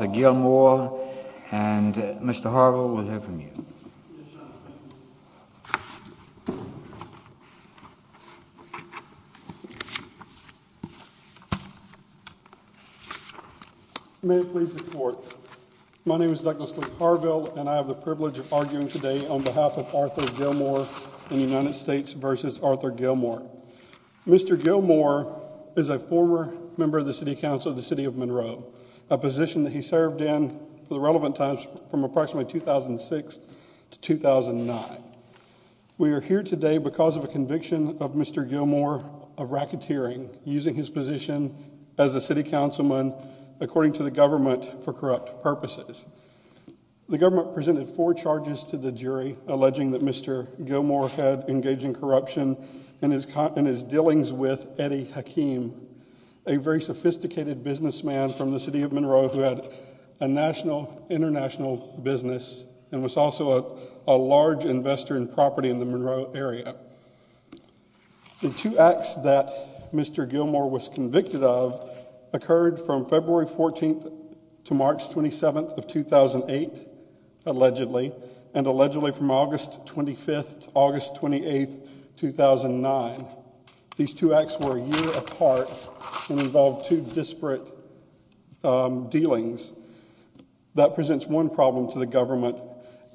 Mr. Gilmore and Mr. Harville, we'll hear from you. May it please the court. My name is Douglas Harville and I have the privilege of arguing today on behalf of Arthur Gilmore in the United States v. Arthur Gilmore. Mr. Gilmore is a former member of the City Council of the City of Monroe, a position that he served in for the relevant times from approximately 2006 to 2009. We are here today because of a conviction of Mr. Gilmore of racketeering, using his position as a city councilman according to the government for corrupt purposes. The government presented four charges to the jury alleging that Mr. Gilmore had engaged in corruption in his dealings with Eddie Hakeem, a very sophisticated businessman from the City of Monroe who had a national, international business and was also a large investor in property in the Monroe area. The two acts that Mr. Gilmore was convicted of occurred from February 14th to March 27th of 2008, allegedly, and allegedly from August 25th to August 28th, 2009. These two acts were a year apart and involved two disparate dealings. That presents one problem to the government.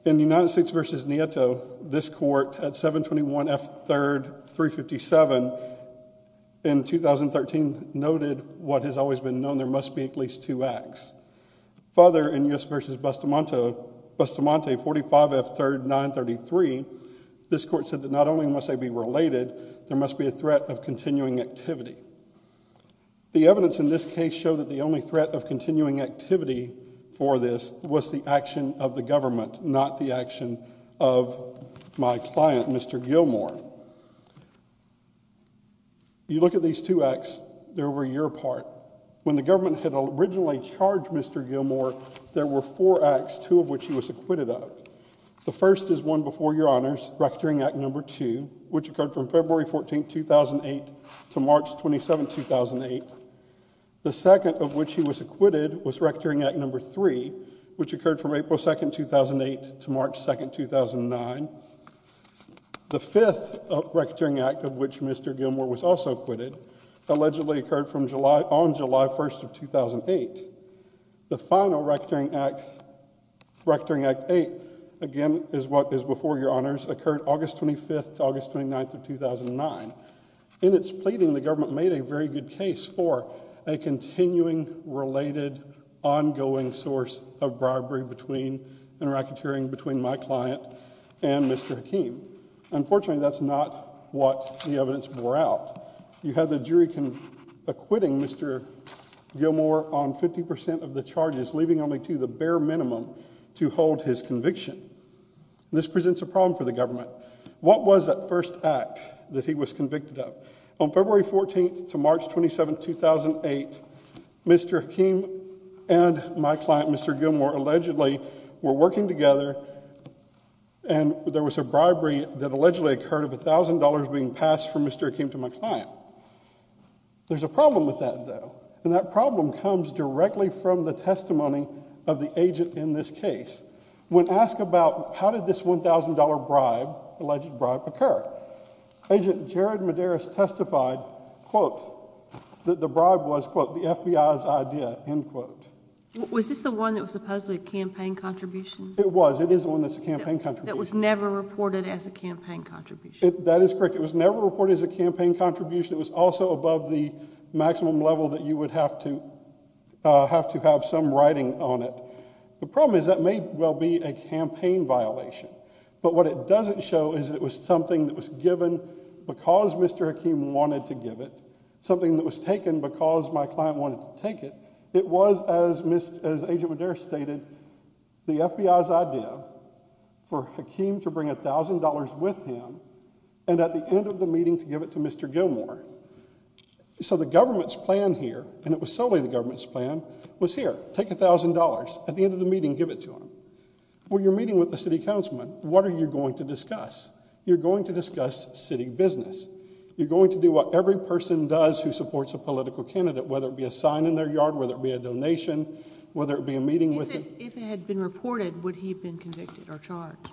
In the United States v. Nieto, this court at 721 F. 3rd 357 in 2013 noted what has always been known, there must be at least two acts. Further, in U.S. v. Bustamante 45 F. 3rd 933, this court said that not only must they be related, there must be a threat of continuing activity. The evidence in this case showed that the only threat of continuing activity for this was the action of the government, not the action of my client, Mr. Gilmore. You look at these two acts, they're over a year apart. When the government had originally charged Mr. Gilmore, there were four acts, two of which he was acquitted of. The first is one before your honors, Rectoring Act No. 2, which occurred from February 14th, 2008 to March 27th, 2008. The second of which he was acquitted was Rectoring Act No. 3, which occurred from April 2nd, 2008 to March 2nd, 2009. The fifth Rectoring Act of which Mr. Gilmore was also acquitted allegedly occurred on July 1st of 2008. The final Rectoring Act, Rectoring Act 8, again, is what is before your honors, occurred August 25th to August 29th of 2009. In its pleading, the government made a very good case for a continuing, related, ongoing source of bribery between and racketeering between my client and Mr. Hakeem. Unfortunately, that's not what the evidence bore out. You had the jury acquitting Mr. Gilmore on 50% of the charges, leaving only to the bare minimum to hold his conviction. This presents a problem for the government. What was that first act that he was convicted of? On February 14th to March 27th, 2008, Mr. Hakeem and my client, Mr. Gilmore, allegedly were working together, and there was a bribery that allegedly occurred of $1,000 being passed from Mr. Hakeem to my client. There's a problem with that, though. And that problem comes directly from the testimony of the agent in this case. When asked about how did this $1,000 bribe, alleged bribe, occur, Agent Jared Medeiros testified, quote, that the bribe was, quote, the FBI's idea, end quote. Was this the one that was supposedly a campaign contribution? It was. It is the one that's a campaign contribution. That was never reported as a campaign contribution. That is correct. It was never reported as a campaign contribution. It was also above the maximum level that you would have to have some writing on it. The problem is that may well be a campaign violation. But what it doesn't show is that it was something that was given because Mr. Hakeem wanted to give it, something that was taken because my client wanted to take it. It was, as Agent Medeiros stated, the FBI's idea for Hakeem to bring $1,000 with him and at the end of the meeting to give it to Mr. Gilmore. So the government's plan here, and it was solely the government's plan, was here. Take $1,000. At the end of the meeting, give it to him. When you're meeting with the city councilman, what are you going to discuss? You're going to discuss city business. You're going to do what every person does who supports a political candidate, whether it be a sign in their yard, whether it be a donation, whether it be a meeting with him. If it had been reported, would he have been convicted or charged?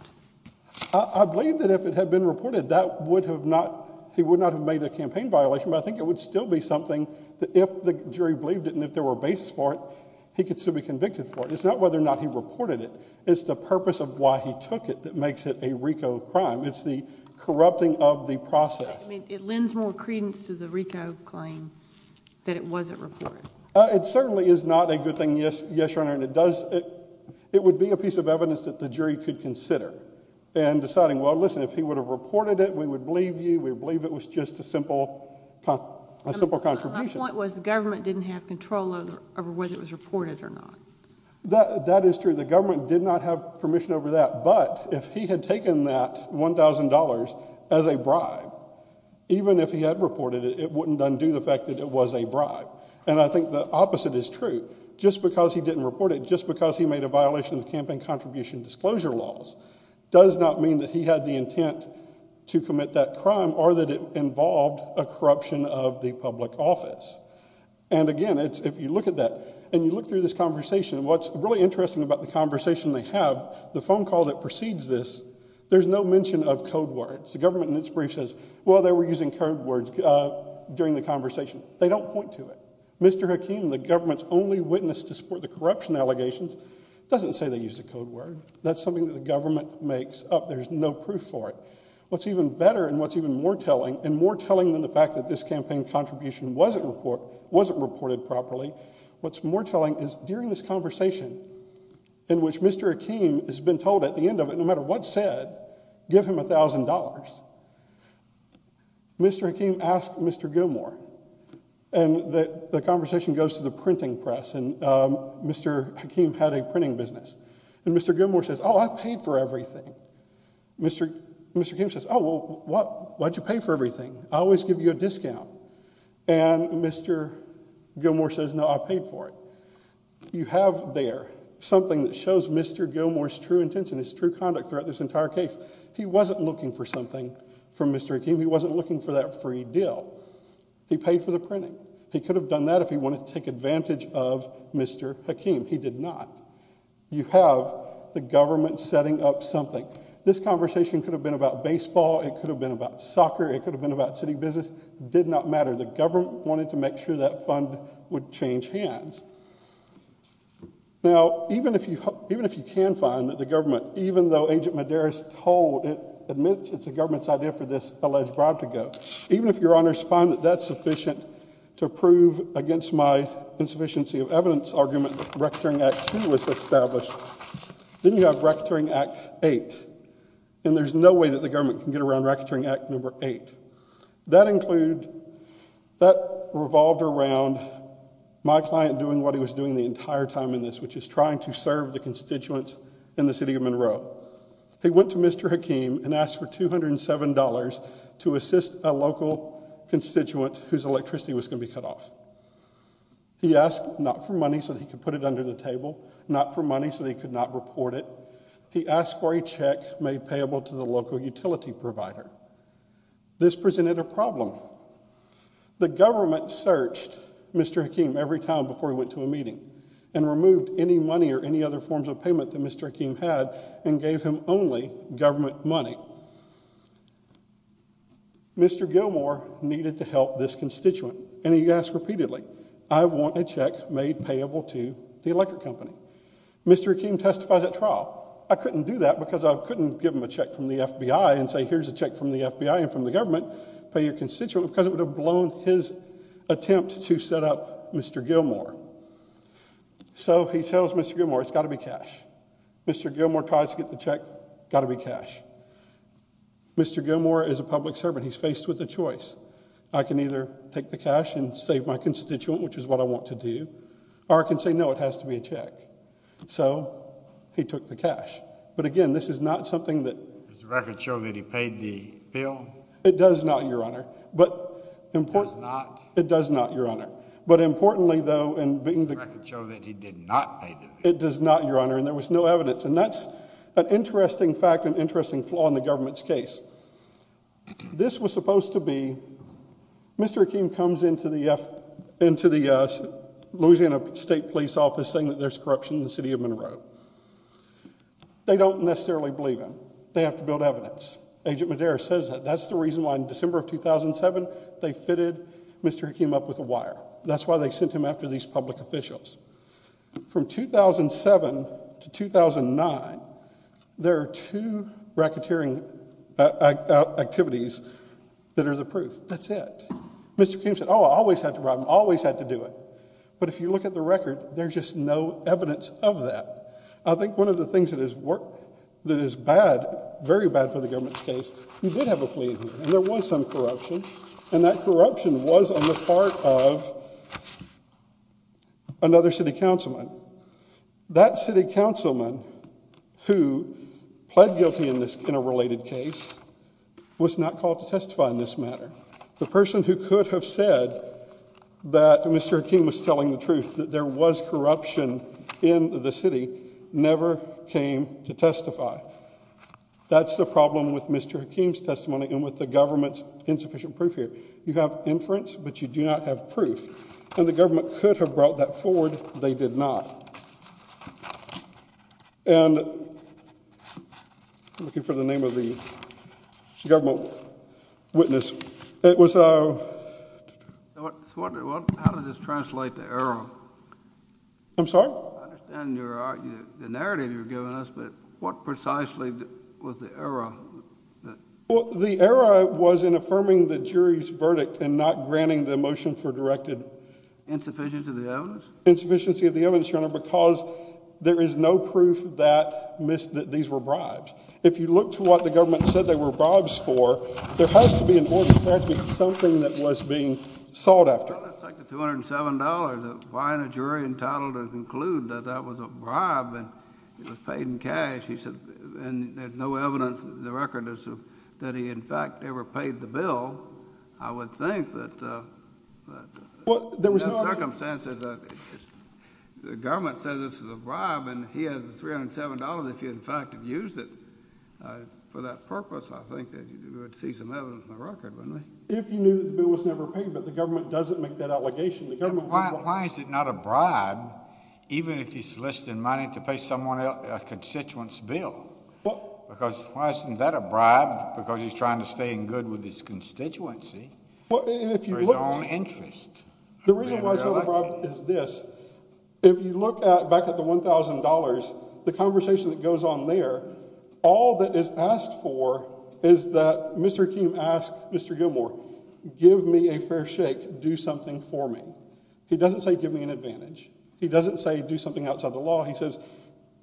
I believe that if it had been reported, he would not have made a campaign violation, but I think it would still be something that if the jury believed it and if there were a basis for it, he could still be convicted for it. It's not whether or not he reported it. It's the purpose of why he took it that makes it a RICO crime. It's the corrupting of the process. It lends more credence to the RICO claim that it wasn't reported. It certainly is not a good thing, yes, Your Honor. It would be a piece of evidence that the jury could consider in deciding, well, listen, if he would have reported it, we would believe you. We would believe it was just a simple contribution. My point was the government didn't have control over whether it was reported or not. That is true. The government did not have permission over that, but if he had taken that $1,000 as a bribe, even if he had reported it, it wouldn't undo the fact that it was a bribe. And I think the opposite is true. Just because he didn't report it, just because he made a violation of the campaign contribution disclosure laws, does not mean that he had the intent to commit that crime or that it involved a corruption of the public office. And, again, if you look at that and you look through this conversation, what's really interesting about the conversation they have, the phone call that precedes this, there's no mention of code words. The government in its brief says, well, they were using code words during the conversation. They don't point to it. Mr. Hakeem, the government's only witness to support the corruption allegations, doesn't say they used a code word. That's something that the government makes up. There's no proof for it. What's even better and what's even more telling, and more telling than the fact that this campaign contribution wasn't reported properly, what's more telling is during this conversation in which Mr. Hakeem has been told at the end of it, no matter what's said, give him $1,000. Mr. Hakeem asked Mr. Gilmore, and the conversation goes to the printing press, and Mr. Hakeem had a printing business. And Mr. Gilmore says, oh, I paid for everything. Mr. Hakeem says, oh, well, why did you pay for everything? I always give you a discount. And Mr. Gilmore says, no, I paid for it. You have there something that shows Mr. Gilmore's true intention, his true conduct throughout this entire case. He wasn't looking for something from Mr. Hakeem. He wasn't looking for that free deal. He paid for the printing. He could have done that if he wanted to take advantage of Mr. Hakeem. He did not. You have the government setting up something. This conversation could have been about baseball. It could have been about soccer. It could have been about city business. It did not matter. The government wanted to make sure that fund would change hands. Now, even if you can find that the government, even though Agent Medeiros told it, admits it's the government's idea for this alleged bribe to go, even if Your Honors find that that's sufficient to prove against my insufficiency of evidence argument that Recreation Act II was established, then you have Recreation Act VIII, and there's no way that the government can get around Recreation Act VIII. That included, that revolved around my client doing what he was doing the entire time in this, which is trying to serve the constituents in the city of Monroe. He went to Mr. Hakeem and asked for $207 to assist a local constituent whose electricity was going to be cut off. He asked not for money so that he could put it under the table, not for money so that he could not report it. He asked for a check made payable to the local utility provider. This presented a problem. The government searched Mr. Hakeem every time before he went to a meeting and removed any money or any other forms of payment that Mr. Hakeem had and gave him only government money. Mr. Gilmore needed to help this constituent, and he asked repeatedly, I want a check made payable to the electric company. Mr. Hakeem testified at trial. I couldn't do that because I couldn't give him a check from the FBI and say, here's a check from the FBI and from the government, pay your constituent, because it would have blown his attempt to set up Mr. Gilmore. So he tells Mr. Gilmore, it's got to be cash. Mr. Gilmore tries to get the check, got to be cash. Mr. Gilmore is a public servant. He's faced with a choice. I can either take the cash and save my constituent, which is what I want to do, or I can say, no, it has to be a check. So he took the cash. But, again, this is not something that— Does the record show that he paid the bill? It does not, Your Honor. It does not? It does not, Your Honor. Does the record show that he did not pay the bill? It does not, Your Honor, and there was no evidence. And that's an interesting fact and interesting flaw in the government's case. This was supposed to be—Mr. Hakeem comes into the Louisiana State Police Office saying that there's corruption in the city of Monroe. They don't necessarily believe him. They have to build evidence. Agent Madera says that. That's the reason why in December of 2007 they fitted Mr. Hakeem up with a wire. That's why they sent him after these public officials. From 2007 to 2009, there are two racketeering activities that are the proof. That's it. Mr. Hakeem said, oh, I always had to rob him, always had to do it. But if you look at the record, there's just no evidence of that. I think one of the things that is bad, very bad for the government's case, he did have a plea agreement, and there was some corruption, and that corruption was on the part of another city councilman. That city councilman who pled guilty in a related case was not called to testify in this matter. The person who could have said that Mr. Hakeem was telling the truth, that there was corruption in the city, never came to testify. That's the problem with Mr. Hakeem's testimony and with the government's insufficient proof here. You have inference, but you do not have proof. And the government could have brought that forward. They did not. And I'm looking for the name of the government witness. It was a... How does this translate to error? I'm sorry? I understand the narrative you're giving us, but what precisely was the error? The error was in affirming the jury's verdict and not granting the motion for directed... Insufficiency of the evidence? Insufficiency of the evidence, Your Honor, because there is no proof that these were bribes. If you look to what the government said they were bribes for, there has to be an order. There has to be something that was being sought after. Well, it's like the $207. Why isn't a jury entitled to conclude that that was a bribe and it was paid in cash? And there's no evidence in the record that he, in fact, ever paid the bill, I would think. In those circumstances, the government says this is a bribe, and he has the $307 if he, in fact, had used it for that purpose. I think you would see some evidence in the record, wouldn't you? If you knew that the bill was never paid, but the government doesn't make that allegation. Why is it not a bribe, even if he's soliciting money to pay someone a constituent's bill? Because why isn't that a bribe? Because he's trying to stay in good with his constituency for his own interest. The reason why it's not a bribe is this. If you look back at the $1,000, the conversation that goes on there, all that is asked for is that Mr. Akeem asks Mr. Gilmour, give me a fair shake, do something for me. He doesn't say give me an advantage. He doesn't say do something outside the law. He says,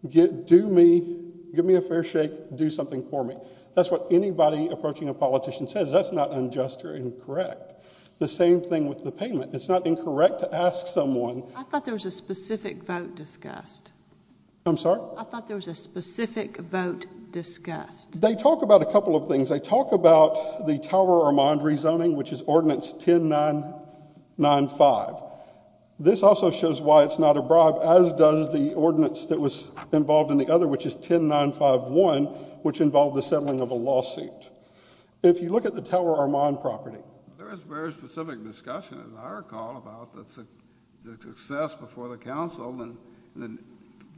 do me, give me a fair shake, do something for me. That's what anybody approaching a politician says. That's not unjust or incorrect. The same thing with the payment. It's not incorrect to ask someone. I thought there was a specific vote discussed. I'm sorry? I thought there was a specific vote discussed. They talk about a couple of things. They talk about the Tower Armand rezoning, which is Ordinance 10995. This also shows why it's not a bribe, as does the ordinance that was involved in the other, which is 10951, which involved the settling of a lawsuit. If you look at the Tower Armand property. There is very specific discussion, as I recall, about the success before the council and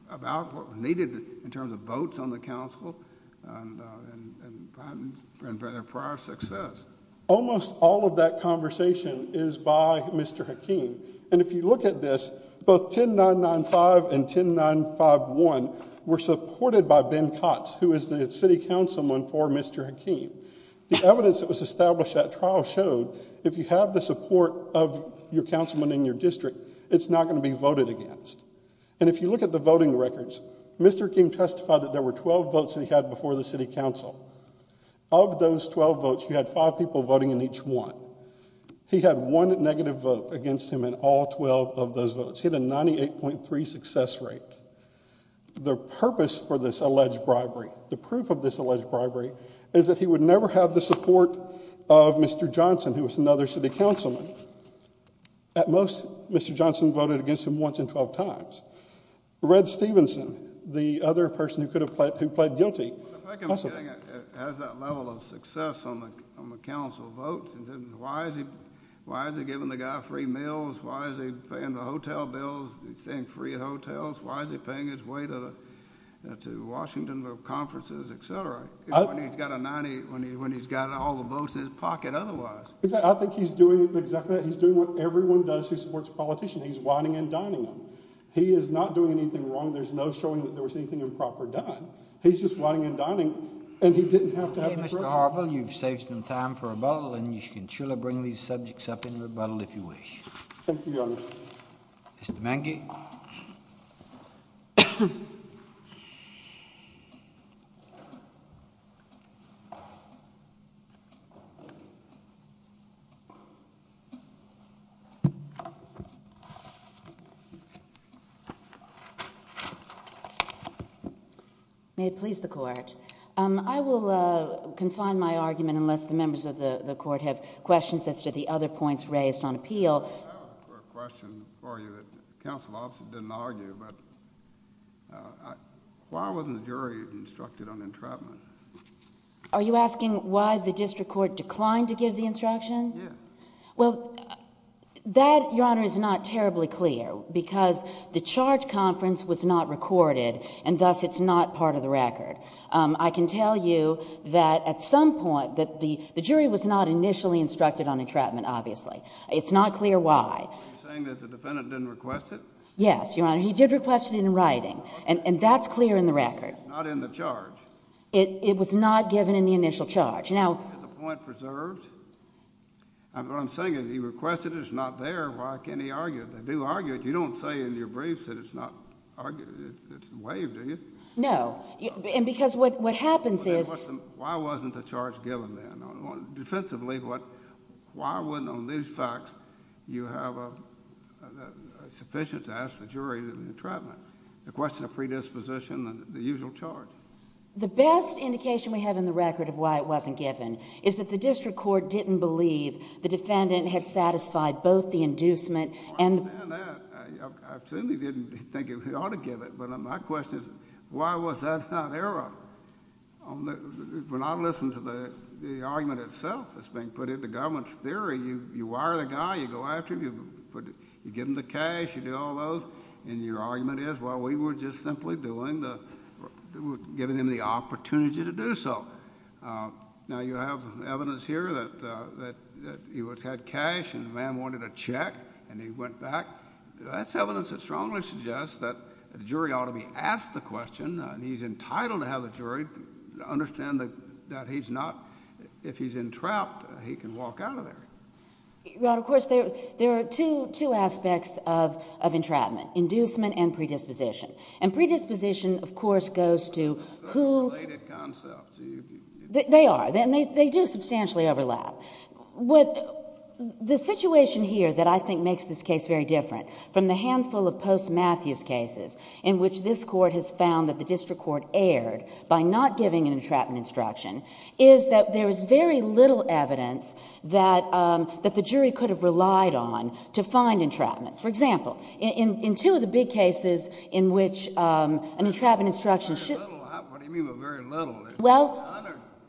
about what was needed in terms of votes on the council and prior success. Almost all of that conversation is by Mr. Akeem. And if you look at this, both 10995 and 10951 were supported by Ben Kotz, who is the city councilman for Mr. Akeem. The evidence that was established at trial showed if you have the support of your councilman in your district, it's not going to be voted against. And if you look at the voting records, Mr. Akeem testified that there were 12 votes that he had before the city council. Of those 12 votes, he had five people voting in each one. He had one negative vote against him in all 12 of those votes. He had a 98.3 success rate. The purpose for this alleged bribery, the proof of this alleged bribery, is that he would never have the support of Mr. Johnson, who was another city councilman. At most, Mr. Johnson voted against him once in 12 times. Red Stevenson, the other person who pled guilty, possibly. I think it has that level of success on the council votes. Why is he giving the guy free meals? Why is he paying the hotel bills? Is he staying free at hotels? Why is he paying his way to Washington, to conferences, et cetera, when he's got all the votes in his pocket otherwise? I think he's doing exactly that. He's doing what everyone does who supports a politician. He's winding and dining them. He is not doing anything wrong. There's no showing that there was anything improper done. He's just winding and dining, and he didn't have to have the pressure. Okay, Mr. Harville, you've saved some time for rebuttal, and you can surely bring these subjects up in rebuttal if you wish. Thank you, Your Honor. Mr. Mangy. May it please the Court. I will confine my argument unless the members of the Court have questions as to the other points raised on appeal. I have a question for you. The counsel obviously didn't argue, but why wasn't the jury instructed on entrapment? Are you asking why the district court declined to give the instruction? Yes. Well, that, Your Honor, is not terribly clear because the charge conference was not recorded, and thus it's not part of the record. I can tell you that at some point the jury was not initially instructed on entrapment, obviously. It's not clear why. Are you saying that the defendant didn't request it? Yes, Your Honor. He did request it in writing, and that's clear in the record. Not in the charge? It was not given in the initial charge. Now... Is the point preserved? I'm saying if he requested it, it's not there. Why can't he argue it? They do argue it. You don't say in your briefs that it's not argued. It's waived, do you? No, and because what happens is... Why wasn't the charge given then? Defensively, why wasn't on these facts you have sufficient to ask the jury to entrapment? The question of predisposition and the usual charge. The best indication we have in the record of why it wasn't given is that the district court didn't believe the defendant had satisfied both the inducement and... I understand that. I certainly didn't think he ought to give it, but my question is why was that not there? When I listen to the argument itself that's being put into government's theory, you wire the guy, you go after him, you give him the cash, you do all those, and your argument is, well, we were just simply doing the... giving him the opportunity to do so. Now you have evidence here that he had cash and the man wanted a check, and he went back. That's evidence that strongly suggests that the jury ought to be asked the question, and he's entitled to have the jury understand that he's not... if he's entrapped, he can walk out of there. Your Honor, of course, there are two aspects of entrapment, inducement and predisposition. And predisposition, of course, goes to who... Related concepts. They are, and they do substantially overlap. The situation here that I think makes this case very different from the handful of post-Matthews cases in which this Court has found that the district court erred by not giving an entrapment instruction is that there is very little evidence that the jury could have relied on to find entrapment. For example, in two of the big cases in which an entrapment instruction should... What do you mean by very little? Well...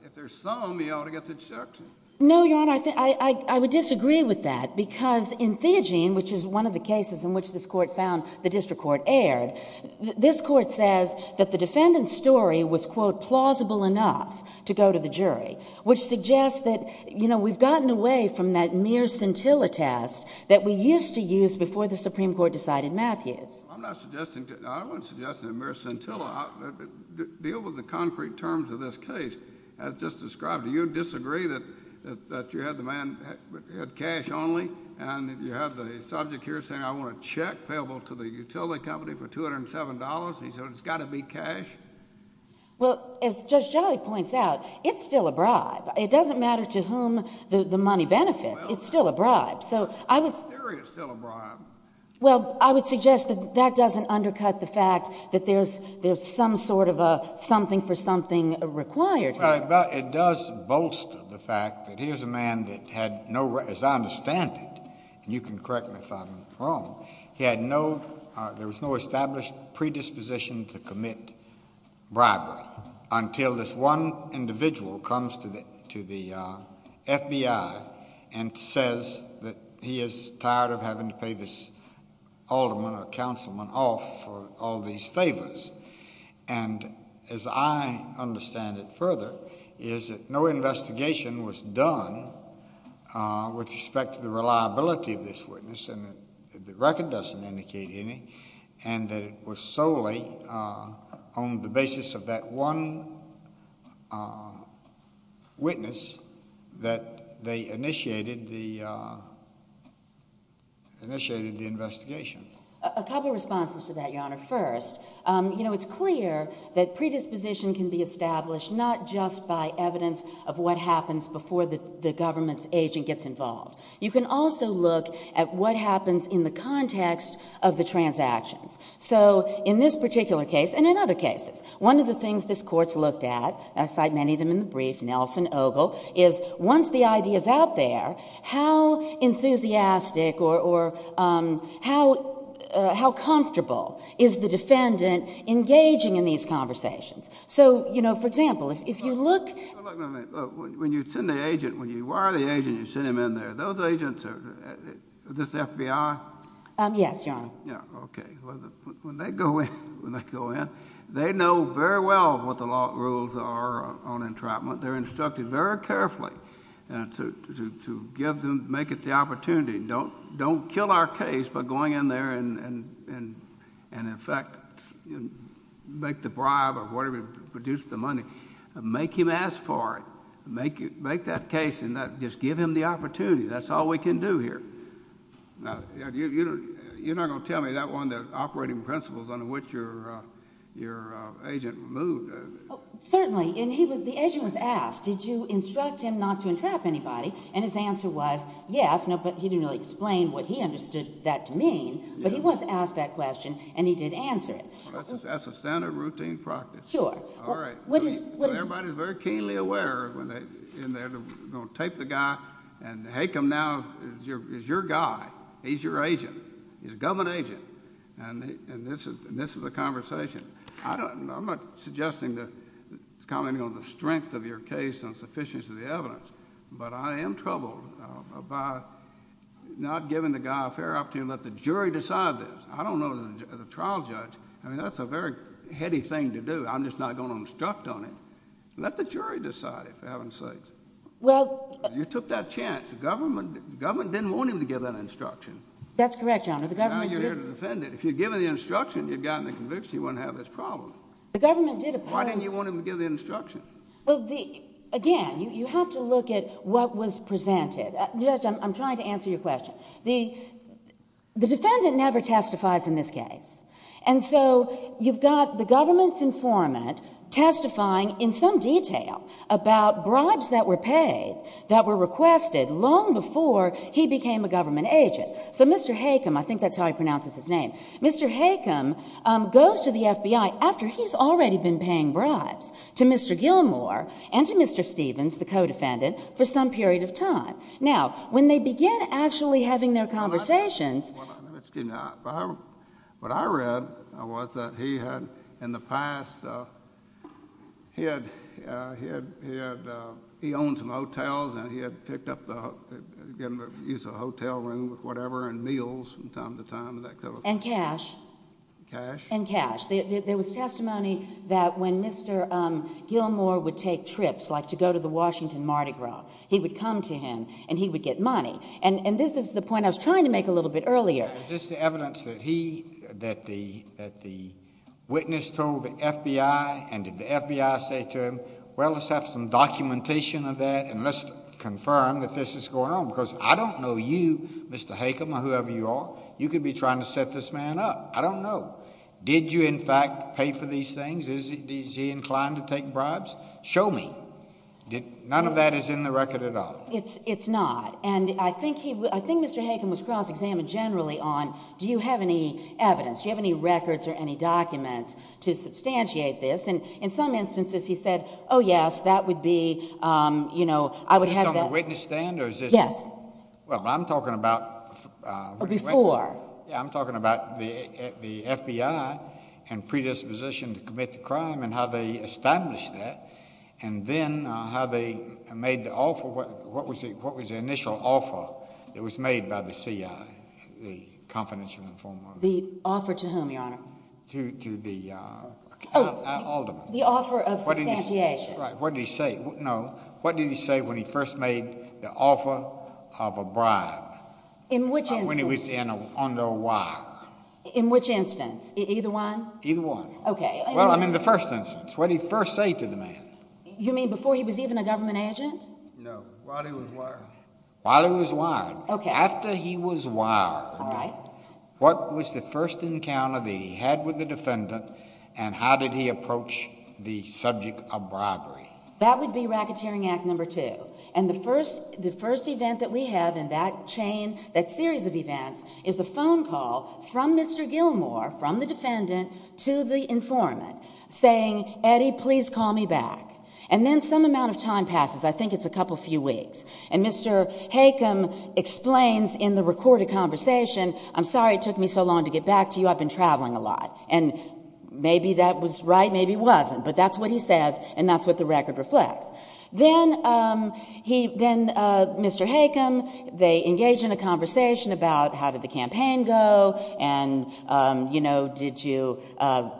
If there's some, he ought to get the instruction. No, Your Honor, I would disagree with that because in Theogene, which is one of the cases in which this Court found the district court erred, this Court says that the defendant's story was, quote, plausible enough to go to the jury, which suggests that, you know, we've gotten away from that mere scintilla test that we used to use before the Supreme Court decided Matthews. I'm not suggesting... I wasn't suggesting a mere scintilla. Deal with the concrete terms of this case as just described. Do you disagree that you had the man who had cash only and that you had the subject here saying, I want a check payable to the utility company for $207, and he said it's got to be cash? Well, as Judge Jolly points out, it's still a bribe. It doesn't matter to whom the money benefits. It's still a bribe. So I would... The jury is still a bribe. Well, I would suggest that that doesn't undercut the fact that there's some sort of a something for something required here. Well, it does bolster the fact that here's a man that had no... as I understand it, and you can correct me if I'm wrong, he had no... there was no established predisposition to commit bribery until this one individual comes to the FBI and says that he is tired of having to pay this alderman or councilman off for all these favors. And as I understand it further, is that no investigation was done with respect to the reliability of this witness, and the record doesn't indicate any, and that it was solely on the basis of that one witness that they initiated the investigation. You know, it's clear that predisposition can be established not just by evidence of what happens before the government's agent gets involved. You can also look at what happens in the context of the transactions. So in this particular case, and in other cases, one of the things this Court's looked at, and I cite many of them in the brief, Nelson, Ogle, is once the idea is out there, how enthusiastic or how comfortable is the defendant engaging in these conversations? So, you know, for example, if you look... When you send the agent, when you wire the agent and you send him in there, those agents are... is this the FBI? Yes, Your Honor. Yeah, okay. When they go in, they know very well what the law rules are on entrapment. They're instructed very carefully to give them... make it the opportunity. Don't kill our case by going in there and, in fact, make the bribe or whatever, produce the money. Make him ask for it. Make that case and just give him the opportunity. That's all we can do here. Now, you're not going to tell me that one, the operating principles under which your agent moved. Certainly, and the agent was asked, did you instruct him not to entrap anybody? And his answer was yes, but he didn't really explain what he understood that to mean. But he was asked that question, and he did answer it. That's a standard routine practice. Sure. All right. So everybody's very keenly aware when they're in there, they're going to tape the guy, and Hakem now is your guy. He's your agent. He's a government agent, and this is a conversation. I'm not suggesting that, commenting on the strength of your case and sufficiency of the evidence, but I am troubled by not giving the guy a fair opportunity to let the jury decide this. I don't know as a trial judge. I mean, that's a very heady thing to do. I'm just not going to instruct on it. Let the jury decide, for heaven's sakes. Well... You took that chance. The government didn't want him to give that instruction. That's correct, Your Honor. The government didn't. Now you're here to defend it. If you'd given the instruction, you'd gotten the conviction he wouldn't have this problem. The government did oppose... Why didn't you want him to give the instruction? Well, again, you have to look at what was presented. Judge, I'm trying to answer your question. The defendant never testifies in this case, and so you've got the government's informant testifying in some detail about bribes that were paid that were requested long before he became a government agent. So Mr. Hakem, I think that's how he pronounces his name, Mr. Hakem goes to the FBI after he's already been paying bribes to Mr. Gilmore and to Mr. Stevens, the co-defendant, for some period of time. Now, when they begin actually having their conversations... Excuse me. What I read was that he had, in the past, he owned some hotels and he had picked up the hotel room, whatever, and meals from time to time. And cash. Cash. And cash. There was testimony that when Mr. Gilmore would take trips, like to go to the Washington Mardi Gras, he would come to him and he would get money. And this is the point I was trying to make a little bit earlier. Is this the evidence that the witness told the FBI, and did the FBI say to him, well, let's have some documentation of that and let's confirm that this is going on? Because I don't know you, Mr. Hakem, or whoever you are, you could be trying to set this man up. I don't know. Did you, in fact, pay for these things? Is he inclined to take bribes? Show me. None of that is in the record at all. It's not. And I think Mr. Hakem was cross-examined generally on do you have any evidence, do you have any records or any documents to substantiate this? And in some instances he said, oh, yes, that would be, you know, I would have that. Is this on the witness stand? Yes. Well, I'm talking about. Before. Yeah, I'm talking about the FBI and predisposition to commit the crime and how they established that and then how they made the offer. What was the initial offer that was made by the CIA, the confidential informant? The offer to whom, Your Honor? To the alderman. Oh, the offer of substantiation. Right. What did he say? No. What did he say when he first made the offer of a bribe? In which instance? When he was under wire. In which instance? Either one? Either one. Okay. Well, I mean the first instance. What did he first say to the man? No. While he was wired. While he was wired. Okay. After he was wired. All right. What was the first encounter that he had with the defendant and how did he approach the subject of bribery? That would be Racketeering Act No. 2. And the first event that we have in that chain, that series of events, is a phone call from Mr. Gilmore, from the defendant to the informant, saying, Eddie, please call me back. And then some amount of time passes. I think it's a couple few weeks. And Mr. Hakem explains in the recorded conversation, I'm sorry it took me so long to get back to you. I've been traveling a lot. And maybe that was right, maybe it wasn't. But that's what he says and that's what the record reflects. Then Mr. Hakem, they engage in a conversation about how did the campaign go and, you know,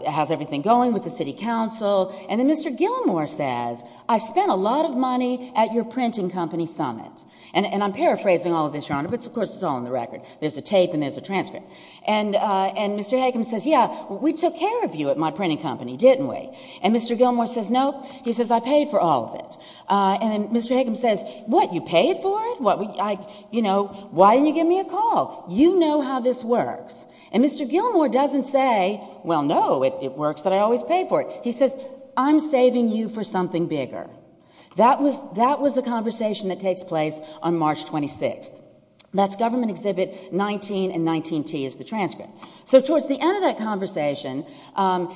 how's everything going with the city council. And then Mr. Gilmore says, I spent a lot of money at your printing company summit. And I'm paraphrasing all of this, Your Honor, but of course it's all in the record. There's a tape and there's a transcript. And Mr. Hakem says, yeah, we took care of you at my printing company, didn't we? And Mr. Gilmore says, nope. He says, I paid for all of it. And then Mr. Hakem says, what, you paid for it? You know, why didn't you give me a call? You know how this works. And Mr. Gilmore doesn't say, well, no, it works that I always pay for it. He says, I'm saving you for something bigger. That was a conversation that takes place on March 26th. That's Government Exhibit 19 and 19T is the transcript. So towards the end of that conversation,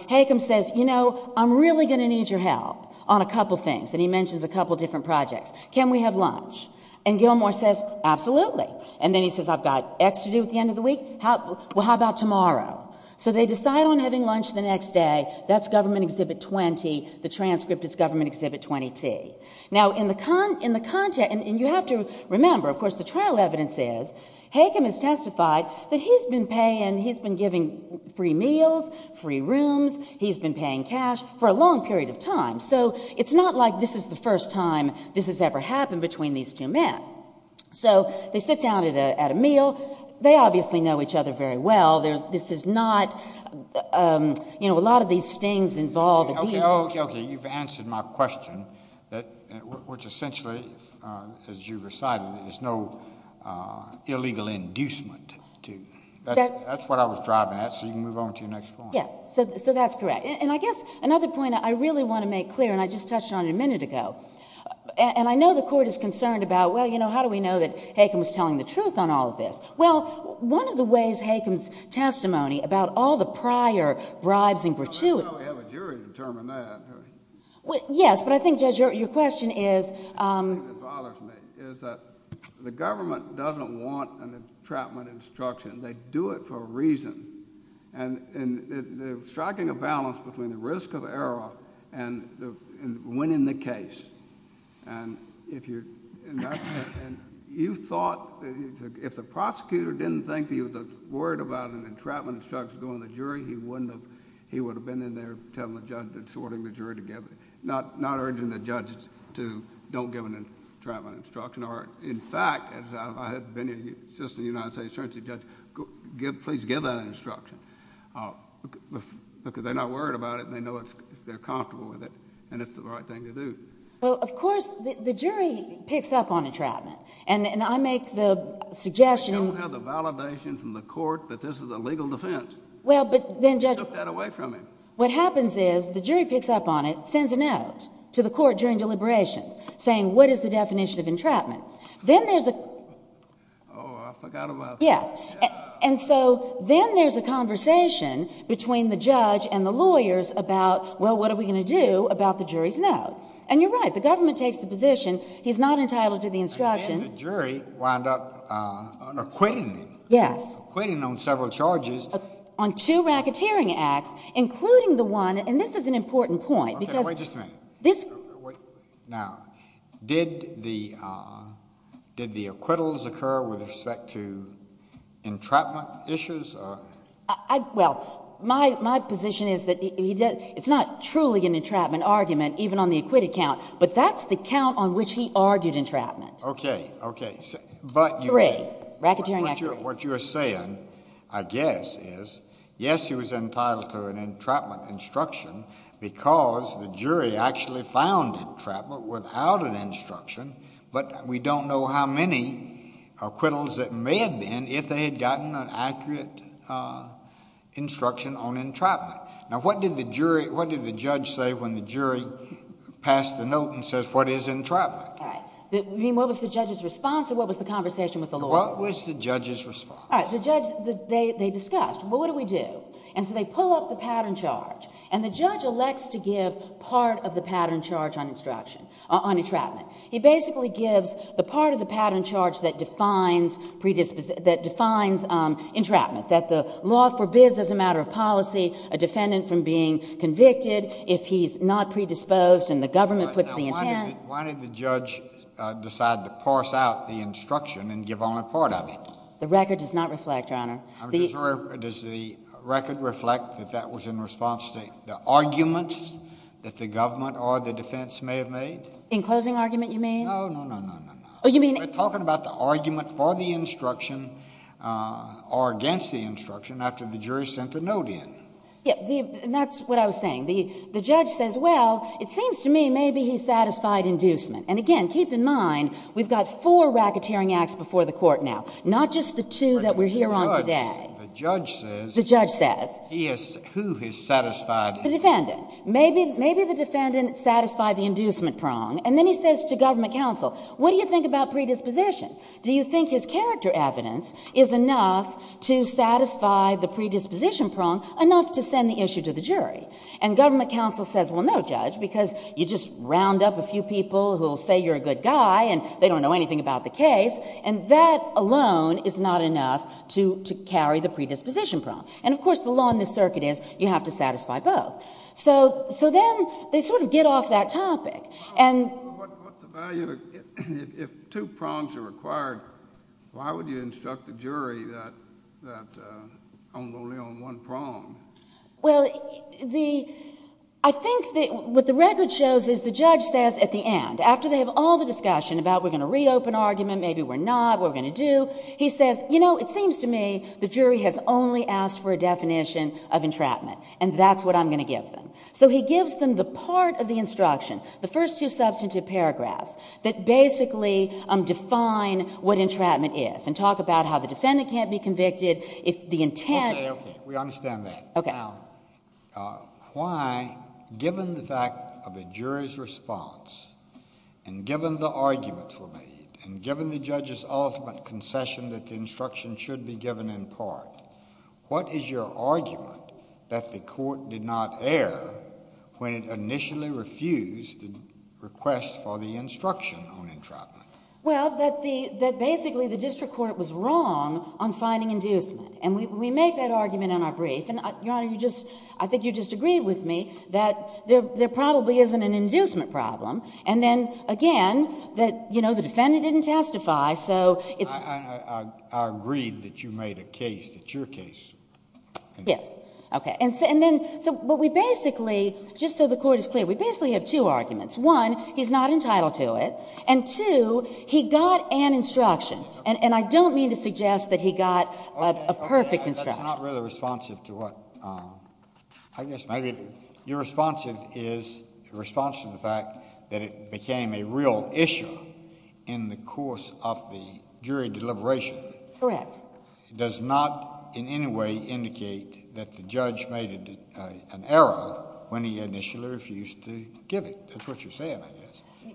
Hakem says, you know, I'm really going to need your help on a couple things. And he mentions a couple different projects. Can we have lunch? And Gilmore says, absolutely. And then he says, I've got X to do at the end of the week. Well, how about tomorrow? So they decide on having lunch the next day. That's Government Exhibit 20. The transcript is Government Exhibit 20T. Now, in the content, and you have to remember, of course, the trial evidence is, Hakem has testified that he's been paying, he's been giving free meals, free rooms. He's been paying cash for a long period of time. So it's not like this is the first time this has ever happened between these two men. So they sit down at a meal. They obviously know each other very well. This is not, you know, a lot of these things involve a deal. Okay, you've answered my question, which essentially, as you recited, is no illegal inducement. That's what I was driving at. So you can move on to your next point. Yeah, so that's correct. And I guess another point I really want to make clear, and I just touched on it a minute ago, and I know the Court is concerned about, well, you know, how do we know that Hakem is telling the truth on all of this? Well, one of the ways Hakem's testimony about all the prior bribes and gratuity. I don't know if we have a jury to determine that. Yes, but I think, Judge, your question is. The thing that bothers me is that the government doesn't want an entrapment instruction. They do it for a reason. And striking a balance between the risk of error and winning the case. And you thought if the prosecutor didn't think he was worried about an entrapment instruction going to the jury, he wouldn't have... he would have been in there telling the judge, sorting the jury together, not urging the judge to don't give an entrapment instruction. Or, in fact, if I had been an assistant United States attorney judge, please give that instruction because they're not worried about it and they know they're comfortable with it and it's the right thing to do. Well, of course, the jury picks up on entrapment. And I make the suggestion... But you don't have the validation from the court that this is a legal defense. Well, but then, Judge... You took that away from him. What happens is the jury picks up on it, sends a note to the court during deliberations, saying what is the definition of entrapment? Then there's a... Oh, I forgot about that. Yes. And so then there's a conversation between the judge and the lawyers about, well, what are we going to do about the jury's note? And you're right. The government takes the position he's not entitled to the instruction. And then the jury wound up acquitting him. Yes. Acquitting him on several charges. On two racketeering acts, including the one, and this is an important point, because Wait just a minute. Now, did the acquittals occur with respect to entrapment issues? Well, my position is that it's not truly an entrapment argument, even on the acquitted count. But that's the count on which he argued entrapment. Okay. Okay. Three, racketeering act. What you're saying, I guess, is, yes, he was entitled to an entrapment instruction because the jury actually found entrapment without an instruction, but we don't know how many acquittals it may have been if they had gotten an accurate instruction on entrapment. Now, what did the judge say when the jury passed the note and says, what is entrapment? All right. You mean, what was the judge's response, or what was the conversation with the lawyers? What was the judge's response? All right. The judge, they discussed, well, what do we do? And so they pull up the pattern charge. And the judge elects to give part of the pattern charge on entrapment. He basically gives the part of the pattern charge that defines entrapment. That the law forbids as a matter of policy a defendant from being convicted if he's not predisposed and the government puts the intent. Why did the judge decide to parse out the instruction and give only part of it? The record does not reflect, Your Honor. Does the record reflect that that was in response to the arguments that the government or the defense may have made? In closing argument, you mean? No, no, no, no, no, no. Oh, you mean? We're talking about the argument for the instruction or against the instruction after the jury sent the note in. Yeah. And that's what I was saying. The judge says, well, it seems to me maybe he satisfied inducement. And again, keep in mind, we've got four racketeering acts before the court now, not just the two that we're here on today. The judge says. He has, who has satisfied. The defendant. Maybe the defendant satisfied the inducement prong. And then he says to government counsel, what do you think about predisposition? Do you think his character evidence is enough to satisfy the predisposition prong enough to send the issue to the jury? And government counsel says, well, no, judge, because you just round up a few people who will say you're a good guy and they don't know anything about the case. And that alone is not enough to carry the predisposition prong. And, of course, the law in this circuit is you have to satisfy both. So then they sort of get off that topic. What's the value if two prongs are required, why would you instruct the jury that I'm only on one prong? Well, I think what the record shows is the judge says at the end, after they have all the discussion about we're going to reopen argument, maybe we're not, what are we going to do? He says, you know, it seems to me the jury has only asked for a definition of entrapment. And that's what I'm going to give them. So he gives them the part of the instruction, the first two substantive paragraphs, that basically define what entrapment is and talk about how the defendant can't be convicted, the intent. Okay. We understand that. Okay. Why, given the fact of a jury's response, and given the arguments were made, and given the judge's ultimate concession that the instruction should be given in part, what is your argument that the court did not err when it initially refused the request for the instruction on entrapment? Well, that basically the district court was wrong on finding inducement. And we make that argument in our brief. And, Your Honor, you just, I think you just agreed with me that there probably isn't an inducement problem. And then, again, that, you know, the defendant didn't testify, so it's. I agreed that you made a case that's your case. Yes. Okay. And then, so, but we basically, just so the court is clear, we basically have two arguments. One, he's not entitled to it. And two, he got an instruction. And I don't mean to suggest that he got a perfect instruction. Okay. Okay. That's not really responsive to what, I guess maybe your response is, your response to the fact that it became a real issue in the course of the jury deliberation. Correct. Does not in any way indicate that the judge made an error when he initially refused to give it. That's what you're saying, I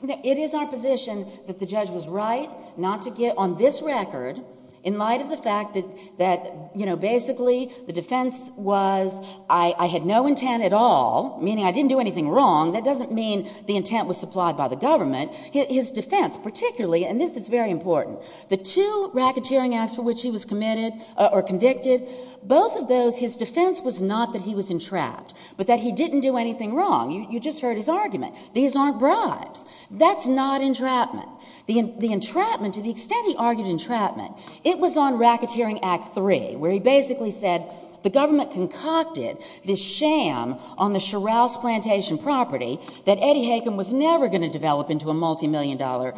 guess. It is our position that the judge was right not to give, on this record, in light of the fact that, you know, basically the defense was I had no intent at all, meaning I didn't do anything wrong, that doesn't mean the intent was supplied by the government. His defense, particularly, and this is very important, the two racketeering acts for which he was committed or convicted, both of those, his defense was not that he was entrapped, but that he didn't do anything wrong. You just heard his argument. These aren't bribes. That's not entrapment. The entrapment, to the extent he argued entrapment, it was on racketeering act three where he basically said the government concocted this sham on the Shrouse Plantation property that Eddie Hakem was never going to develop into a multimillion dollar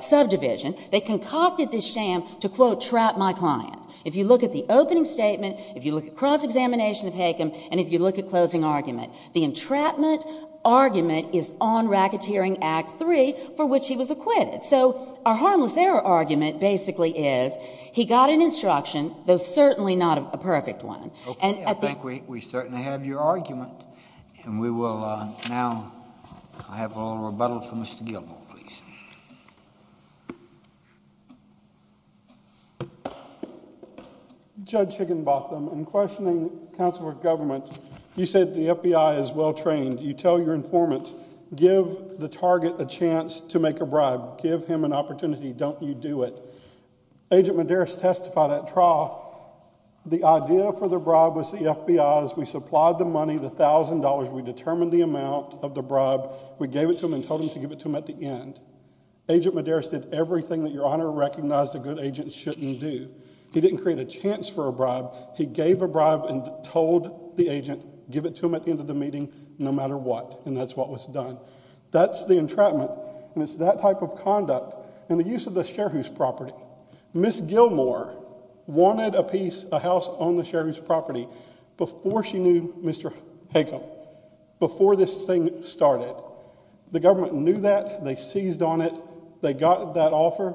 subdivision. They concocted this sham to, quote, trap my client. If you look at the opening statement, if you look at cross-examination of Hakem, and if you look at closing argument, the entrapment argument is on racketeering act three for which he was acquitted. So our harmless error argument basically is he got an instruction, though certainly not a perfect one. Okay. I think we certainly have your argument, and we will now have a little rebuttal from Mr. Gilmore, please. Judge Higginbotham, in questioning counsel with government, you said the FBI is well trained. You tell your informant, give the target a chance to make a bribe. Give him an opportunity. Don't you do it. Agent Medeiros testified at trial. The idea for the bribe was the FBI's. We supplied the money, the $1,000. We determined the amount of the bribe. We gave it to him and told him to give it to him at the end. Agent Medeiros did everything that your Honor recognized a good agent shouldn't do. He didn't create a chance for a bribe. He gave a bribe and told the agent give it to him at the end of the meeting no matter what, and that's what was done. That's the entrapment, and it's that type of conduct. And the use of the shareholders' property. Ms. Gilmore wanted a house on the shareholders' property before she knew Mr. Higginbotham, before this thing started. The government knew that. They seized on it. They got that offer,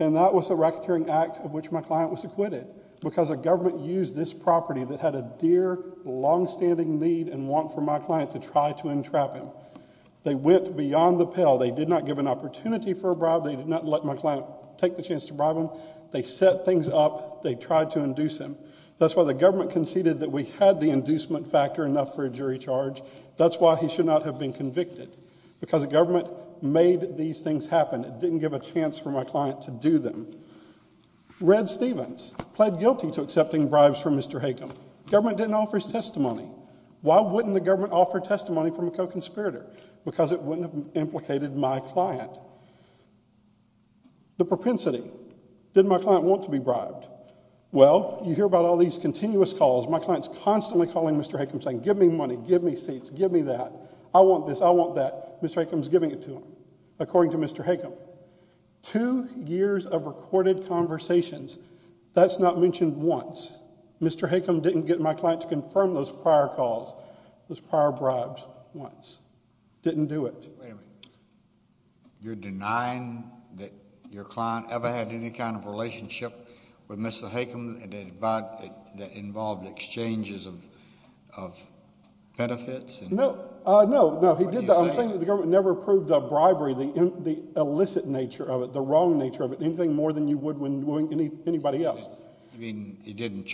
and that was a racketeering act of which my client was acquitted because the government used this property that had a dear, longstanding need and want for my client to try to entrap him. They went beyond the pill. They did not give an opportunity for a bribe. They did not let my client take the chance to bribe him. They set things up. They tried to induce him. That's why the government conceded that we had the inducement factor enough for a jury charge. That's why he should not have been convicted because the government made these things happen. It didn't give a chance for my client to do them. Red Stevens pled guilty to accepting bribes from Mr. Higginbotham. Government didn't offer his testimony. Why wouldn't the government offer testimony from a co-conspirator? Because it wouldn't have implicated my client. The propensity. Did my client want to be bribed? Well, you hear about all these continuous calls. My client is constantly calling Mr. Higginbotham saying, give me money, give me seats, give me that. I want this. I want that. Mr. Higginbotham is giving it to him, according to Mr. Higginbotham. Two years of recorded conversations. That's not mentioned once. Mr. Higginbotham didn't get my client to confirm those prior calls, those prior bribes, once. Didn't do it. Wait a minute. You're denying that your client ever had any kind of relationship with Mr. Higginbotham that involved exchanges of benefits? No. No, no. He did that. I'm saying that the government never approved the bribery, the illicit nature of it, the wrong nature of it, anything more than you would when anyone else. You mean he didn't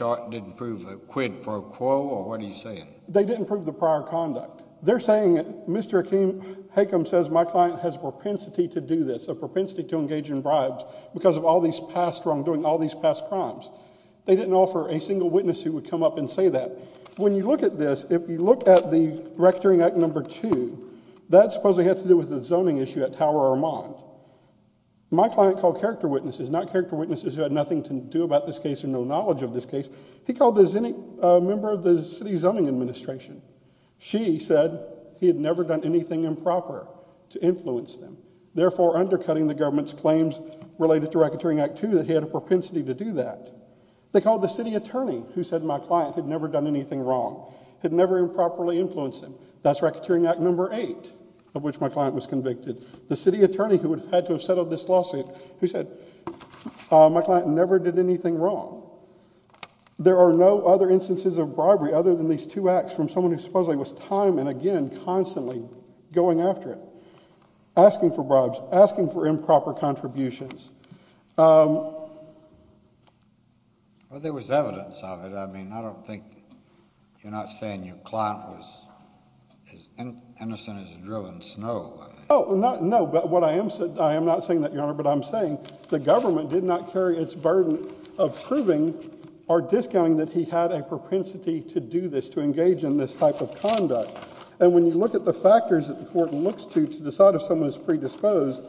prove quid pro quo, or what are you saying? They didn't prove the prior conduct. They're saying Mr. Higginbotham says my client has a propensity to do this, a propensity to engage in bribes, because of all these past wrongdoing, all these past crimes. They didn't offer a single witness who would come up and say that. When you look at this, if you look at the Rectoring Act No. 2, that supposedly had to do with the zoning issue at Tower, Vermont. My client called character witnesses, not character witnesses who had nothing to do about this case or no knowledge of this case. He called a member of the City Zoning Administration. She said he had never done anything improper to influence them, therefore undercutting the government's claims related to Rectoring Act 2 that he had a propensity to do that. They called the city attorney who said my client had never done anything wrong, had never improperly influenced them. That's Rectoring Act No. 8, of which my client was convicted. The city attorney who would have had to have settled this lawsuit, who said my client never did anything wrong. There are no other instances of bribery other than these two acts from someone who supposedly was time and again, constantly going after it, asking for bribes, asking for improper contributions. Well, there was evidence of it. I mean, I don't think you're not saying your client was as innocent as a drill in snow. No, but what I am saying, I am not saying that, Your Honor, but I'm saying the government did not carry its burden of proving or discounting that he had a propensity to do this, to engage in this type of conduct. And when you look at the factors that the court looks to to decide if someone is predisposed,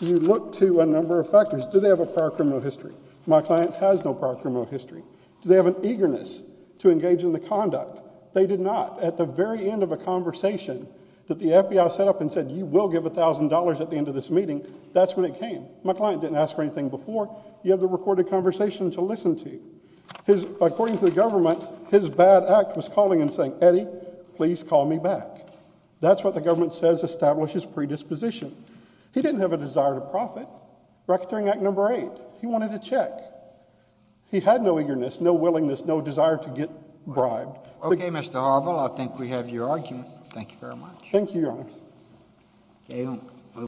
you look to a number of factors. Do they have a prior criminal history? My client has no prior criminal history. Do they have an eagerness to engage in the conduct? They did not. At the very end of a conversation that the FBI set up and said you will give $1,000 at the end of this meeting, that's when it came. My client didn't ask for anything before. You have the recorded conversation to listen to. According to the government, his bad act was calling and saying, Eddie, please call me back. That's what the government says establishes predisposition. He didn't have a desire to profit. Rectoring Act No. 8, he wanted a check. He had no eagerness, no willingness, no desire to get bribed. Okay, Mr. Harville, I think we have your argument. Thank you very much. Thank you, Your Honor.